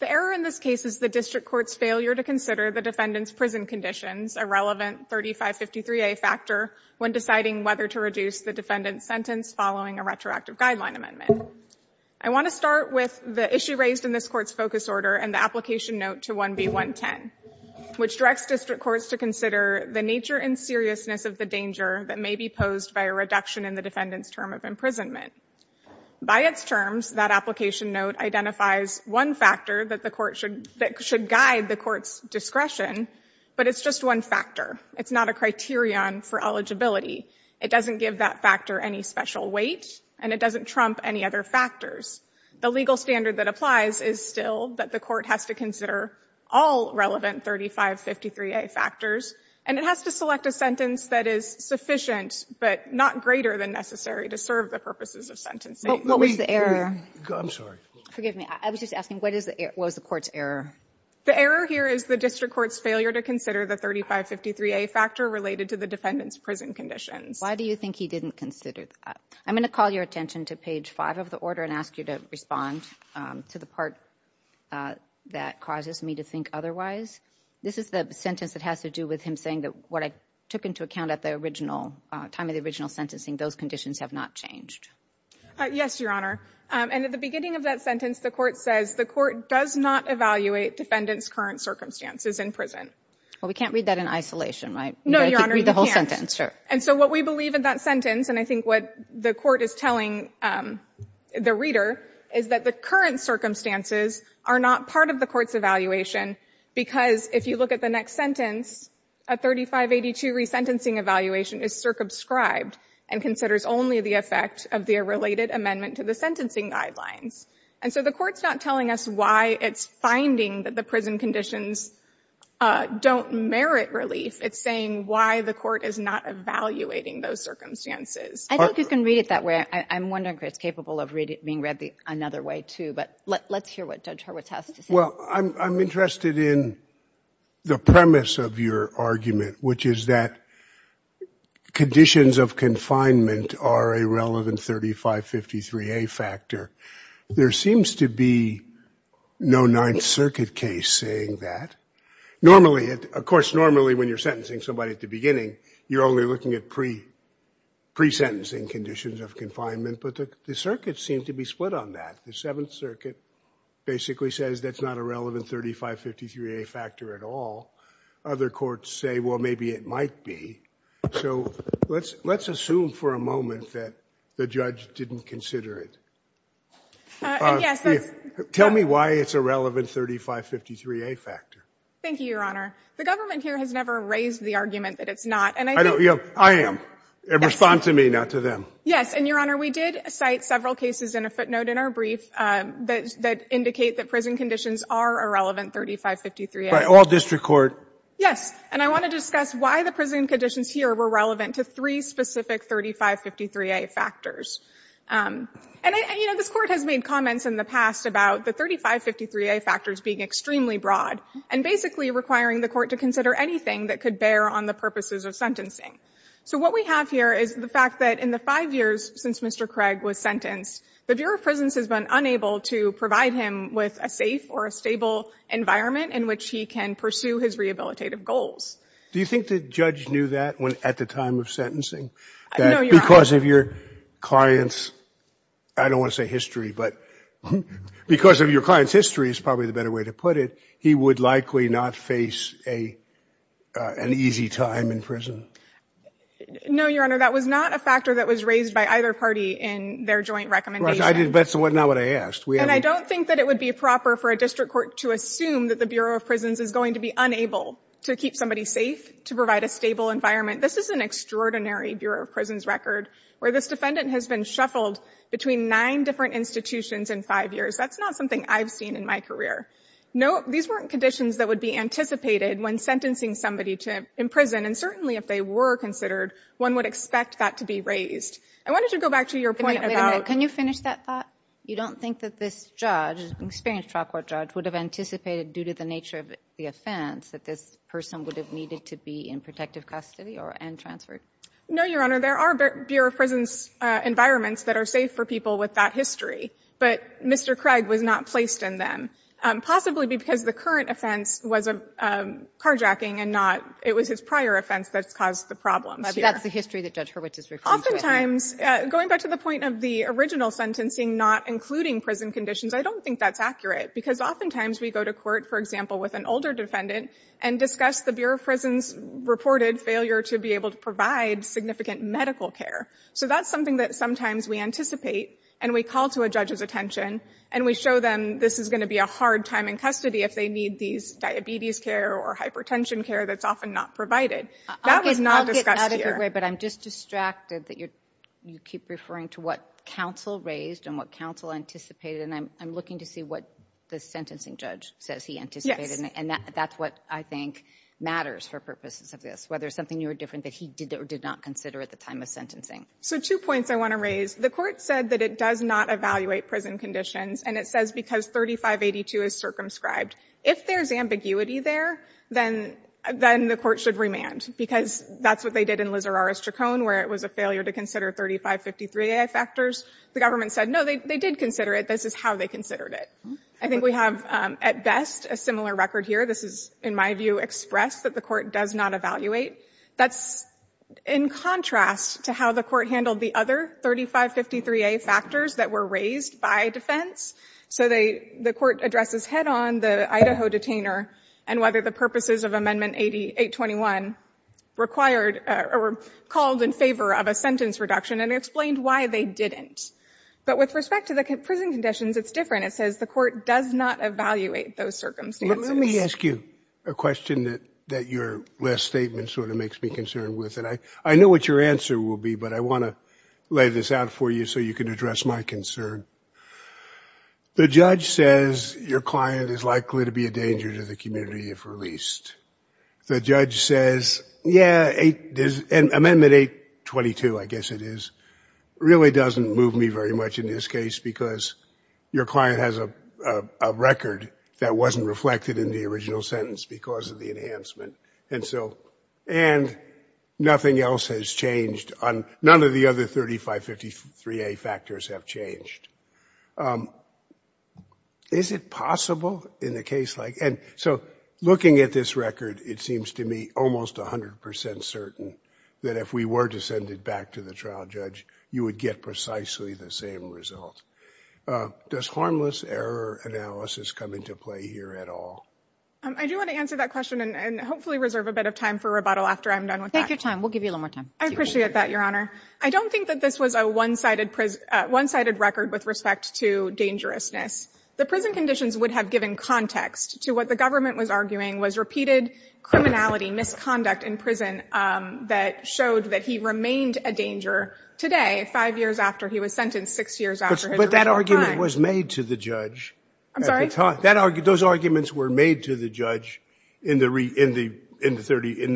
The error in this case is the District Court's failure to consider the defendant's prison conditions a relevant 3553a factor when deciding whether to reduce the defendant's sentence following a retroactive guideline amendment. I want to start with the issue raised in this Court's focus order and the application note to 1B.110, which directs District Courts to consider the nature and seriousness of the danger that may be posed by a reduction in the defendant's term of imprisonment. By its terms, that application note identifies one factor that should guide the Court's discretion, but it's just one factor. It's not a criterion for eligibility. It doesn't give that factor any special weight and it doesn't trump any other factors. The legal standard that applies is still that the Court has to consider all relevant 3553a factors and it has to select a sentence that is sufficient but not greater than necessary to serve the purposes of sentencing. Kagan, I'm sorry. Forgive me. I was just asking, what is the error, what is the Court's error? The error here is the District Court's failure to consider the 3553a factor related to the defendant's prison conditions. Why do you think he didn't consider that? I'm going to call your attention to page 5 of the order and ask you to respond to the part that causes me to think otherwise. This is the sentence that has to do with him saying that what I took into account at the original, time of the original sentencing, those conditions have not changed. Yes, Your Honor. And at the beginning of that sentence, the Court says the Court does not evaluate defendant's current circumstances in prison. Well, we can't read that in isolation, right? No, Your Honor, you can't. Read the whole sentence, sure. And so what we believe in that sentence, and I think what the Court is telling the reader, is that the current circumstances are not part of the Court's evaluation because if you look at the next sentence, a 3582 resentencing evaluation is circumscribed and considers only the effect of the related amendment to the sentencing guidelines. And so the Court's not telling us why it's finding that the prison conditions don't merit relief. It's saying why the Court is not evaluating those circumstances. I think you can read it that way. I'm wondering if it's capable of being read another way, too, but let's hear what Judge Hurwitz has to say. Well, I'm interested in the premise of your argument, which is that conditions of confinement are a relevant 3553A factor. There seems to be no Ninth Circuit case saying that. Normally, of course, normally when you're sentencing somebody at the beginning, you're only looking at pre-sentencing conditions of confinement, but the circuits seem to be split on that. The Seventh Circuit basically says that's not a relevant 3553A factor at all. Other courts say, well, maybe it might be. So let's assume for a moment that the judge didn't consider it. Tell me why it's a relevant 3553A factor. Thank you, Your Honor. The government here has never raised the argument that it's not. And I think the court has. I am. Respond to me, not to them. Yes. And, Your Honor, we did cite several cases in a footnote in our brief that indicate that prison conditions are a relevant 3553A. By all district court? Yes. And I want to discuss why the prison conditions here were relevant to three specific 3553A factors. And, you know, this Court has made comments in the past about the 3553A factors being extremely broad. And basically requiring the court to consider anything that could bear on the purposes of sentencing. So what we have here is the fact that in the five years since Mr. Craig was sentenced, the Bureau of Prisons has been unable to provide him with a safe or a stable environment in which he can pursue his rehabilitative goals. Do you think the judge knew that at the time of sentencing? No, Your Honor. That because of your client's, I don't want to say history, but because of your client's history is probably the better way to put it, he would likely not face an easy time in prison? No, Your Honor, that was not a factor that was raised by either party in their joint recommendation. That's not what I asked. And I don't think that it would be proper for a district court to assume that the Bureau of Prisons is going to be unable to keep somebody safe, to provide a stable environment. This is an extraordinary Bureau of Prisons record where this defendant has been shuffled between nine different institutions in five years. That's not something I've seen in my career. No, these weren't conditions that would be anticipated when sentencing somebody to prison. And certainly if they were considered, one would expect that to be raised. I wanted to go back to your point about — Wait a minute. Can you finish that thought? You don't think that this judge, experienced trial court judge, would have anticipated due to the nature of the offense that this person would have needed to be in protective custody and transferred? No, Your Honor. There are Bureau of Prisons environments that are safe for people with that history. But Mr. Craig was not placed in them, possibly because the current offense was carjacking and not — it was his prior offense that's caused the problems here. But that's the history that Judge Hurwitz is referring to. Oftentimes, going back to the point of the original sentencing not including prison conditions, I don't think that's accurate. Because oftentimes we go to court, for example, with an older defendant and discuss the Bureau of Prisons' reported failure to be able to provide significant medical care. So that's something that sometimes we anticipate, and we call to a judge's attention, and we show them this is going to be a hard time in custody if they need these diabetes care or hypertension care that's often not provided. That was not discussed here. I'll get out of your way, but I'm just distracted that you keep referring to what counsel raised and what counsel anticipated, and I'm looking to see what the sentencing judge says he anticipated. And that's what I think matters for purposes of this, whether it's something new or different that he did or did not consider at the time of sentencing. So two points I want to raise. The court said that it does not evaluate prison conditions, and it says because 3582 is circumscribed. If there's ambiguity there, then the court should remand, because that's what they did in Lizarrara's Chaconne, where it was a failure to consider 3553 AI factors. The government said, no, they did consider it. This is how they considered it. I think we have, at best, a similar record here. This is, in my view, expressed that the court does not evaluate. That's in contrast to how the court handled the other 3553A factors that were raised by defense. So the court addresses head-on the Idaho detainer and whether the purposes of Amendment 8821 required or called in favor of a sentence reduction and explained why they didn't. But with respect to the prison conditions, it's different. It says the court does not evaluate those circumstances. Let me ask you a question that your last statement sort of makes me concerned with. And I know what your answer will be, but I want to lay this out for you so you can address my concern. The judge says your client is likely to be a danger to the community if released. The judge says, yeah, and Amendment 822, I guess it is, really doesn't move me very much in this case because your client has a record that wasn't reflected in the original sentence because of the enhancement. And so, and nothing else has changed on, none of the other 3553A factors have changed. Is it possible in a case like, and so looking at this record, it seems to me almost 100% certain that if we were to send it back to the trial judge, you would get precisely the same result. Does harmless error analysis come into play here at all? I do want to answer that question and hopefully reserve a bit of time for rebuttal after I'm done with that. Take your time. We'll give you a little more time. I appreciate that, Your Honor. I don't think that this was a one-sided record with respect to dangerousness. The prison conditions would have given context to what the government was arguing was repeated criminality, misconduct in prison that showed that he remained a danger today, five years after he was sentenced, six years after his original time. But that argument was made to the judge. I'm sorry? Those arguments were made to the judge in the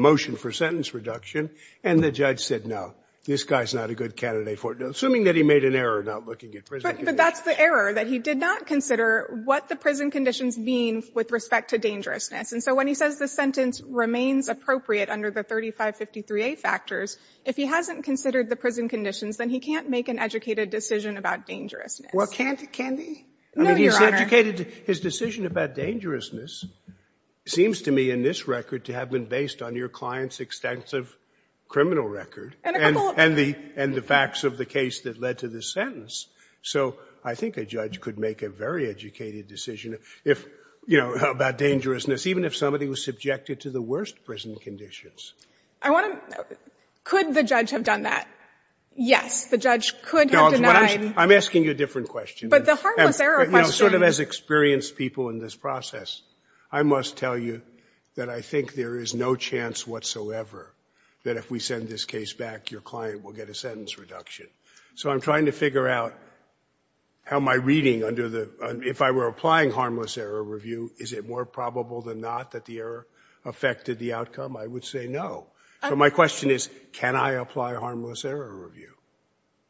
motion for sentence reduction. And the judge said, no, this guy's not a good candidate for it, assuming that he made an error not looking at prison conditions. But that's the error, that he did not consider what the prison conditions mean with respect to dangerousness. And so when he says the sentence remains appropriate under the 3553A factors, if he hasn't considered the prison conditions, then he can't make an educated decision about dangerousness. Well, can't he? No, Your Honor. I mean, he's educated. His decision about dangerousness seems to me in this record to have been based on your client's extensive criminal record and the facts of the case that led to the sentence. So I think a judge could make a very educated decision if, you know, about dangerousness, even if somebody was subjected to the worst prison conditions. I want to – could the judge have done that? Yes, the judge could have denied. I'm asking you a different question. But the harmless error question. You know, sort of as experienced people in this process, I must tell you that I think there is no chance whatsoever that if we send this case back, your client will get a sentence reduction. So I'm trying to figure out how my reading under the – if I were applying harmless error review, is it more probable than not that the error affected the outcome? I would say no. So my question is, can I apply harmless error review?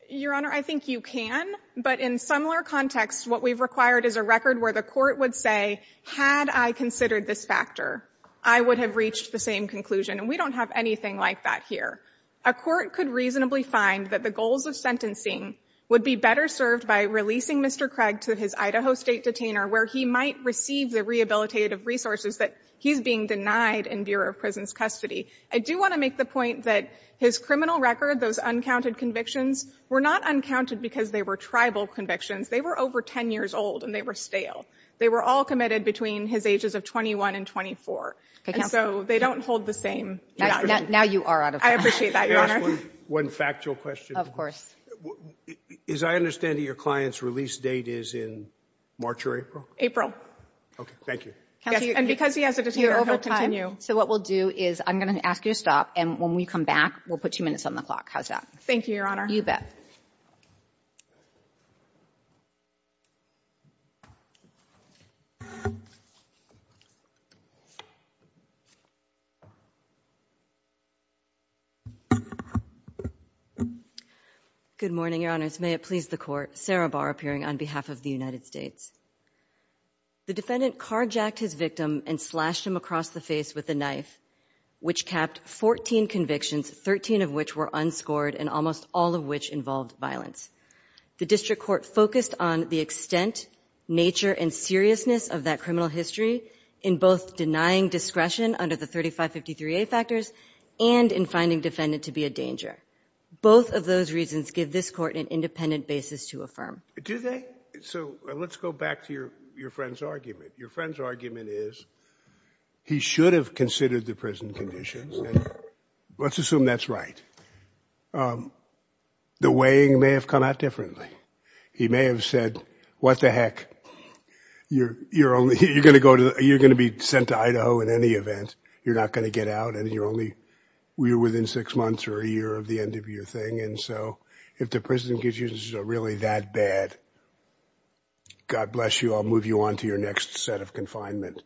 Your Honor, I think you can. But in similar contexts, what we've required is a record where the court would say, had I considered this factor, I would have reached the same conclusion. And we don't have anything like that here. A court could reasonably find that the goals of sentencing would be better served by releasing Mr. Craig to his Idaho State detainer, where he might receive the rehabilitative resources that he's being denied in Bureau of Prison's custody. I do want to make the point that his criminal record, those uncounted convictions, were not uncounted because they were tribal convictions. They were over 10 years old, and they were stale. They were all committed between his ages of 21 and 24. And so they don't hold the same – Now you are out of time. I appreciate that, Your Honor. Can I ask one factual question? Of course. As I understand it, your client's release date is in March or April? April. Okay. Thank you. And because he has a detainer, he'll continue. So what we'll do is I'm going to ask you to stop, and when we come back, we'll put two minutes on the clock. How's that? Thank you, Your Honor. You bet. Good morning, Your Honors. May it please the Court. Sarah Barr, appearing on behalf of the United States. The defendant carjacked his victim and slashed him across the face with a knife, which capped 14 convictions, 13 of which were unscored, and almost all of which involved violence. The district court focused on the extent, nature, and seriousness of that criminal history in both denying discretion under the 3553A factors and in finding defendant to be a danger. Both of those reasons give this court an independent basis to affirm. Do they? So let's go back to your friend's argument. Your friend's argument is he should have considered the prison conditions. Let's assume that's right. The weighing may have come out differently. He may have said, what the heck, you're going to be sent to Idaho in any event. You're not going to get out, and you're only within six months or a year of the end of your thing. And so if the prison conditions are really that bad, God bless you, I'll move you on to your next set of confinement.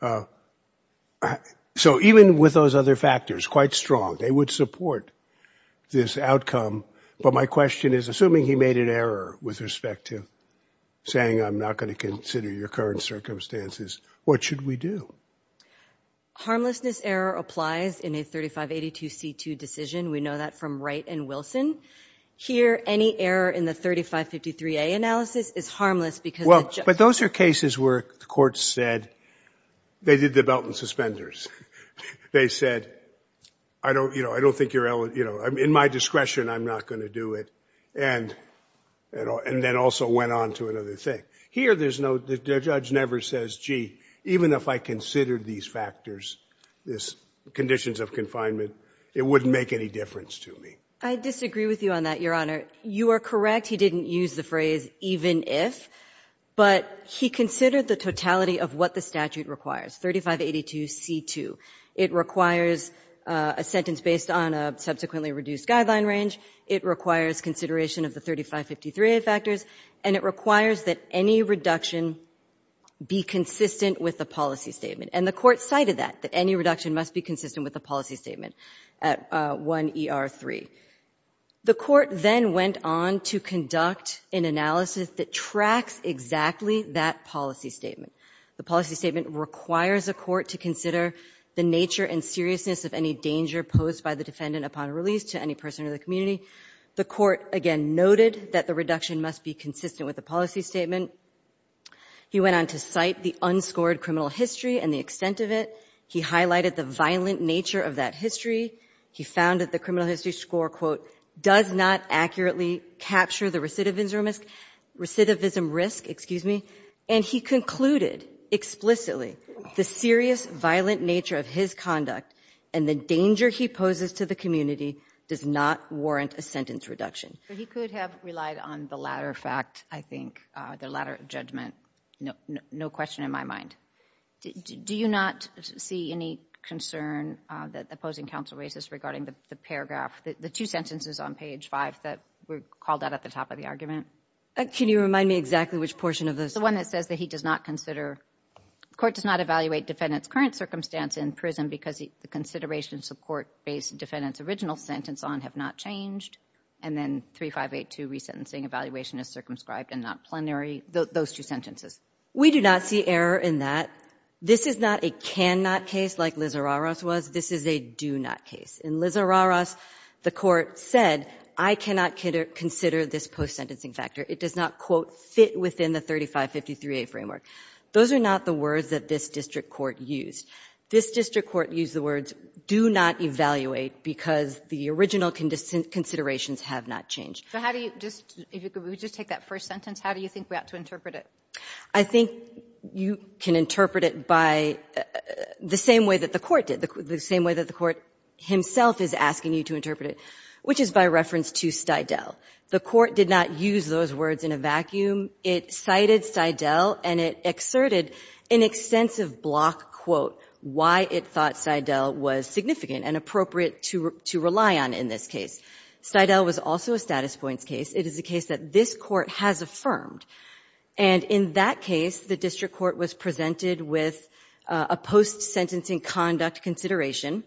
So even with those other factors, quite strong, they would support this outcome. But my question is, assuming he made an error with respect to saying, I'm not going to consider your current circumstances, what should we do? Harmlessness error applies in a 3582C2 decision. We know that from Wright and Wilson. Here, any error in the 3553A analysis is harmless because the judge- But those are cases where the court said, they did the belt and suspenders. They said, in my discretion, I'm not going to do it. And then also went on to another thing. Here, the judge never says, gee, even if I considered these factors, this conditions of confinement, it wouldn't make any difference to me. I disagree with you on that, Your Honor. You are correct, he didn't use the phrase even if. But he considered the totality of what the statute requires, 3582C2. It requires a sentence based on a subsequently reduced guideline range. It requires consideration of the 3553A factors. And it requires that any reduction be consistent with the policy statement. And the court cited that, that any reduction must be consistent with the policy statement at 1ER3. The court then went on to conduct an analysis that tracks exactly that policy statement. The policy statement requires a court to consider the nature and seriousness of any danger posed by the defendant upon release to any person in the community. The court, again, noted that the reduction must be consistent with the policy statement. He went on to cite the unscored criminal history and the extent of it. He highlighted the violent nature of that history. He found that the criminal history score, quote, does not accurately capture the recidivism risk, excuse me. And he concluded explicitly the serious violent nature of his conduct and the danger he poses to the community does not warrant a sentence reduction. He could have relied on the latter fact, I think, the latter judgment. No question in my mind. Do you not see any concern that the opposing counsel raises regarding the paragraph, the two sentences on page five that were called out at the top of the argument? Can you remind me exactly which portion of this? The one that says that he does not consider, the court does not evaluate defendant's current circumstance in prison because the considerations of court based defendant's original sentence on have not changed. And then 3582 resentencing evaluation is circumscribed and not plenary, those two sentences. We do not see error in that. This is not a cannot case like Liz Araros was. This is a do not case. In Liz Araros, the court said, I cannot consider this post sentencing factor. It does not, quote, fit within the 3553A framework. Those are not the words that this district court used. This district court used the words do not evaluate because the original considerations have not changed. So how do you just, if you could just take that first sentence, how do you think we ought to interpret it? I think you can interpret it by the same way that the court did, the same way that the court himself is asking you to interpret it, which is by reference to Stidel. The court did not use those words in a vacuum. It cited Stidel and it exerted an extensive block quote, why it thought Stidel was significant and appropriate to rely on in this case. Stidel was also a status points case. It is a case that this court has affirmed. And in that case, the district court was presented with a post sentencing conduct consideration.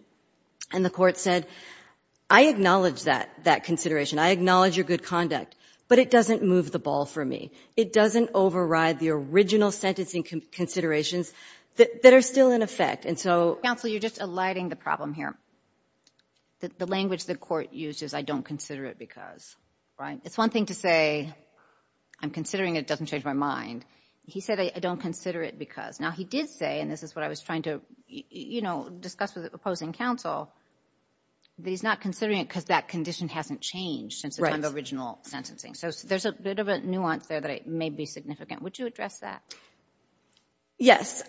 And the court said, I acknowledge that consideration. I acknowledge your good conduct. But it doesn't move the ball for me. It doesn't override the original sentencing considerations that are still in effect. And so- Counsel, you're just alighting the problem here. The language the court uses, I don't consider it because, right? It's one thing to say, I'm considering it, it doesn't change my mind. He said, I don't consider it because. Now he did say, and this is what I was trying to discuss with the opposing counsel, that he's not considering it because that condition hasn't changed since the time of original sentencing. So there's a bit of a nuance there that it may be significant. Would you address that? Yes.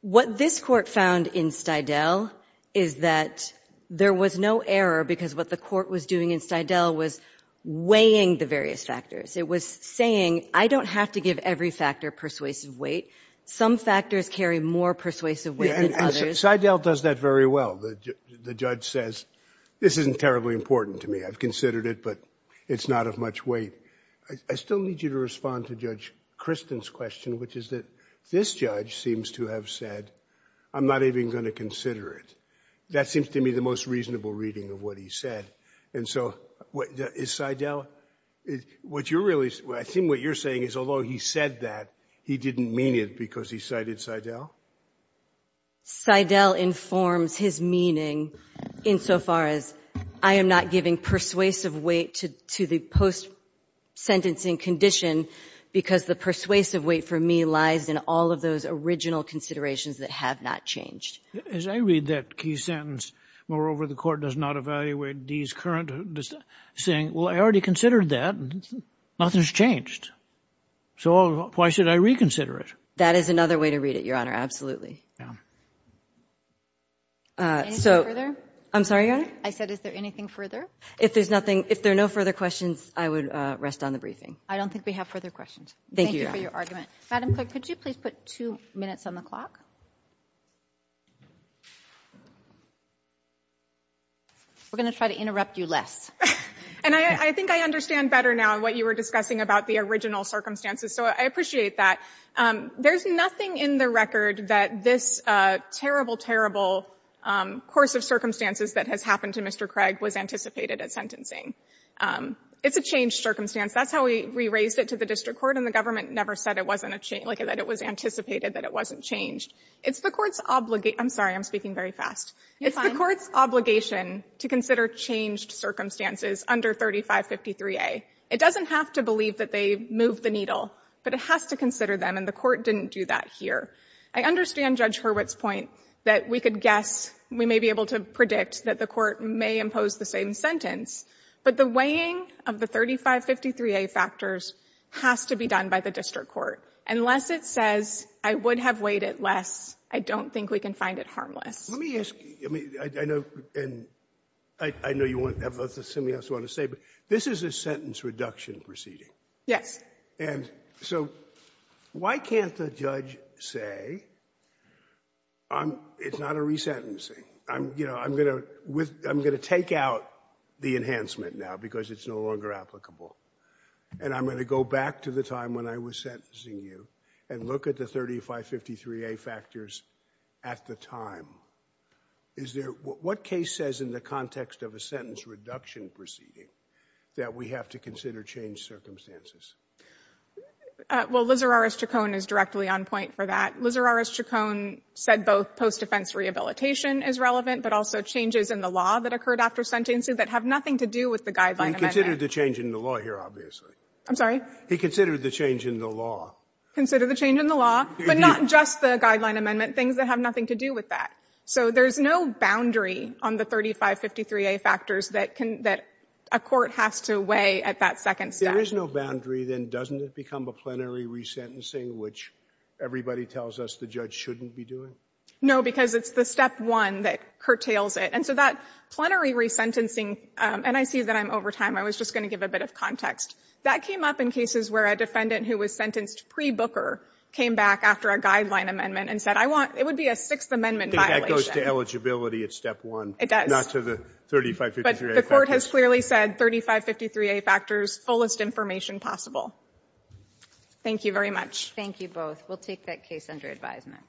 What this court found in Stidel is that there was no error because what the court was doing in Stidel was weighing the various factors. It was saying, I don't have to give every factor persuasive weight. Some factors carry more persuasive weight than others. And Stidel does that very well. The judge says, this isn't terribly important to me. I've considered it, but it's not of much weight. I still need you to respond to Judge Kristen's question, which is that this judge seems to have said, I'm not even going to consider it. That seems to me the most reasonable reading of what he said. And so, is Stidel- I think what you're saying is, although he said that, he didn't mean it because he cited Stidel? Stidel informs his meaning insofar as, I am not giving persuasive weight to the post-sentencing condition because the persuasive weight for me lies in all of those original considerations that have not changed. As I read that key sentence, moreover, the court does not evaluate Dee's current saying, well, I already considered that. Nothing's changed. So why should I reconsider it? That is another way to read it, Your Honor. Absolutely. So- I'm sorry, Your Honor? I said, is there anything further? If there's nothing, if there are no further questions, I would rest on the briefing. I don't think we have further questions. Thank you for your argument. Madam Clerk, could you please put two minutes on the clock? We're going to try to interrupt you less. And I think I understand better now what you were discussing about the original circumstances. So I appreciate that. There's nothing in the record that this terrible, terrible course of circumstances that has happened to Mr. Craig was anticipated at sentencing. It's a changed circumstance. That's how we raised it to the district court, and the government never said it wasn't a change, like that it was anticipated that it wasn't changed. It's the court's obliga- I'm sorry, I'm speaking very fast. It's the court's obligation to consider changed circumstances under 3553A. It doesn't have to believe that they moved the needle, but it has to consider them, and the court didn't do that here. I understand Judge Hurwitz's point that we could guess, we may be able to predict that the court may impose the same sentence, but the weighing of the 3553A factors has to be done by the district court. Unless it says, I would have weighed it less, I don't think we can find it harmless. Let me ask you, I mean, I know, and I know you have something else you want to say, but this is a sentence reduction proceeding. Yes. And so why can't the judge say, it's not a resentencing? I'm going to take out the enhancement now because it's no longer applicable, and I'm going to go back to the time when I was sentencing you and look at the 3553A factors at the time. Is there, what case says in the context of a sentence reduction proceeding that we have to consider changed circumstances? Well, Lizarrares-Chacon is directly on point for that. Lizarrares-Chacon said both post-defense rehabilitation is relevant, but also changes in the law that occurred after sentencing that have nothing to do with the guideline amendment. He considered the change in the law here, obviously. I'm sorry? He considered the change in the law. Consider the change in the law, but not just the guideline amendment, things that have nothing to do with that. So there's no boundary on the 3553A factors that a court has to weigh at that second step. There is no boundary. Then doesn't it become a plenary resentencing, which everybody tells us the judge shouldn't be doing? No, because it's the step one that curtails it. And so that plenary resentencing, and I see that I'm over time. I was just going to give a bit of context. That came up in cases where a defendant who was sentenced pre-Booker came back after a guideline amendment and said, I want, it would be a Sixth Amendment violation. I think that goes to eligibility at step one. It does. Not to the 3553A factors. Fullest information possible. Thank you very much. Thank you both. We'll take that case under advisement.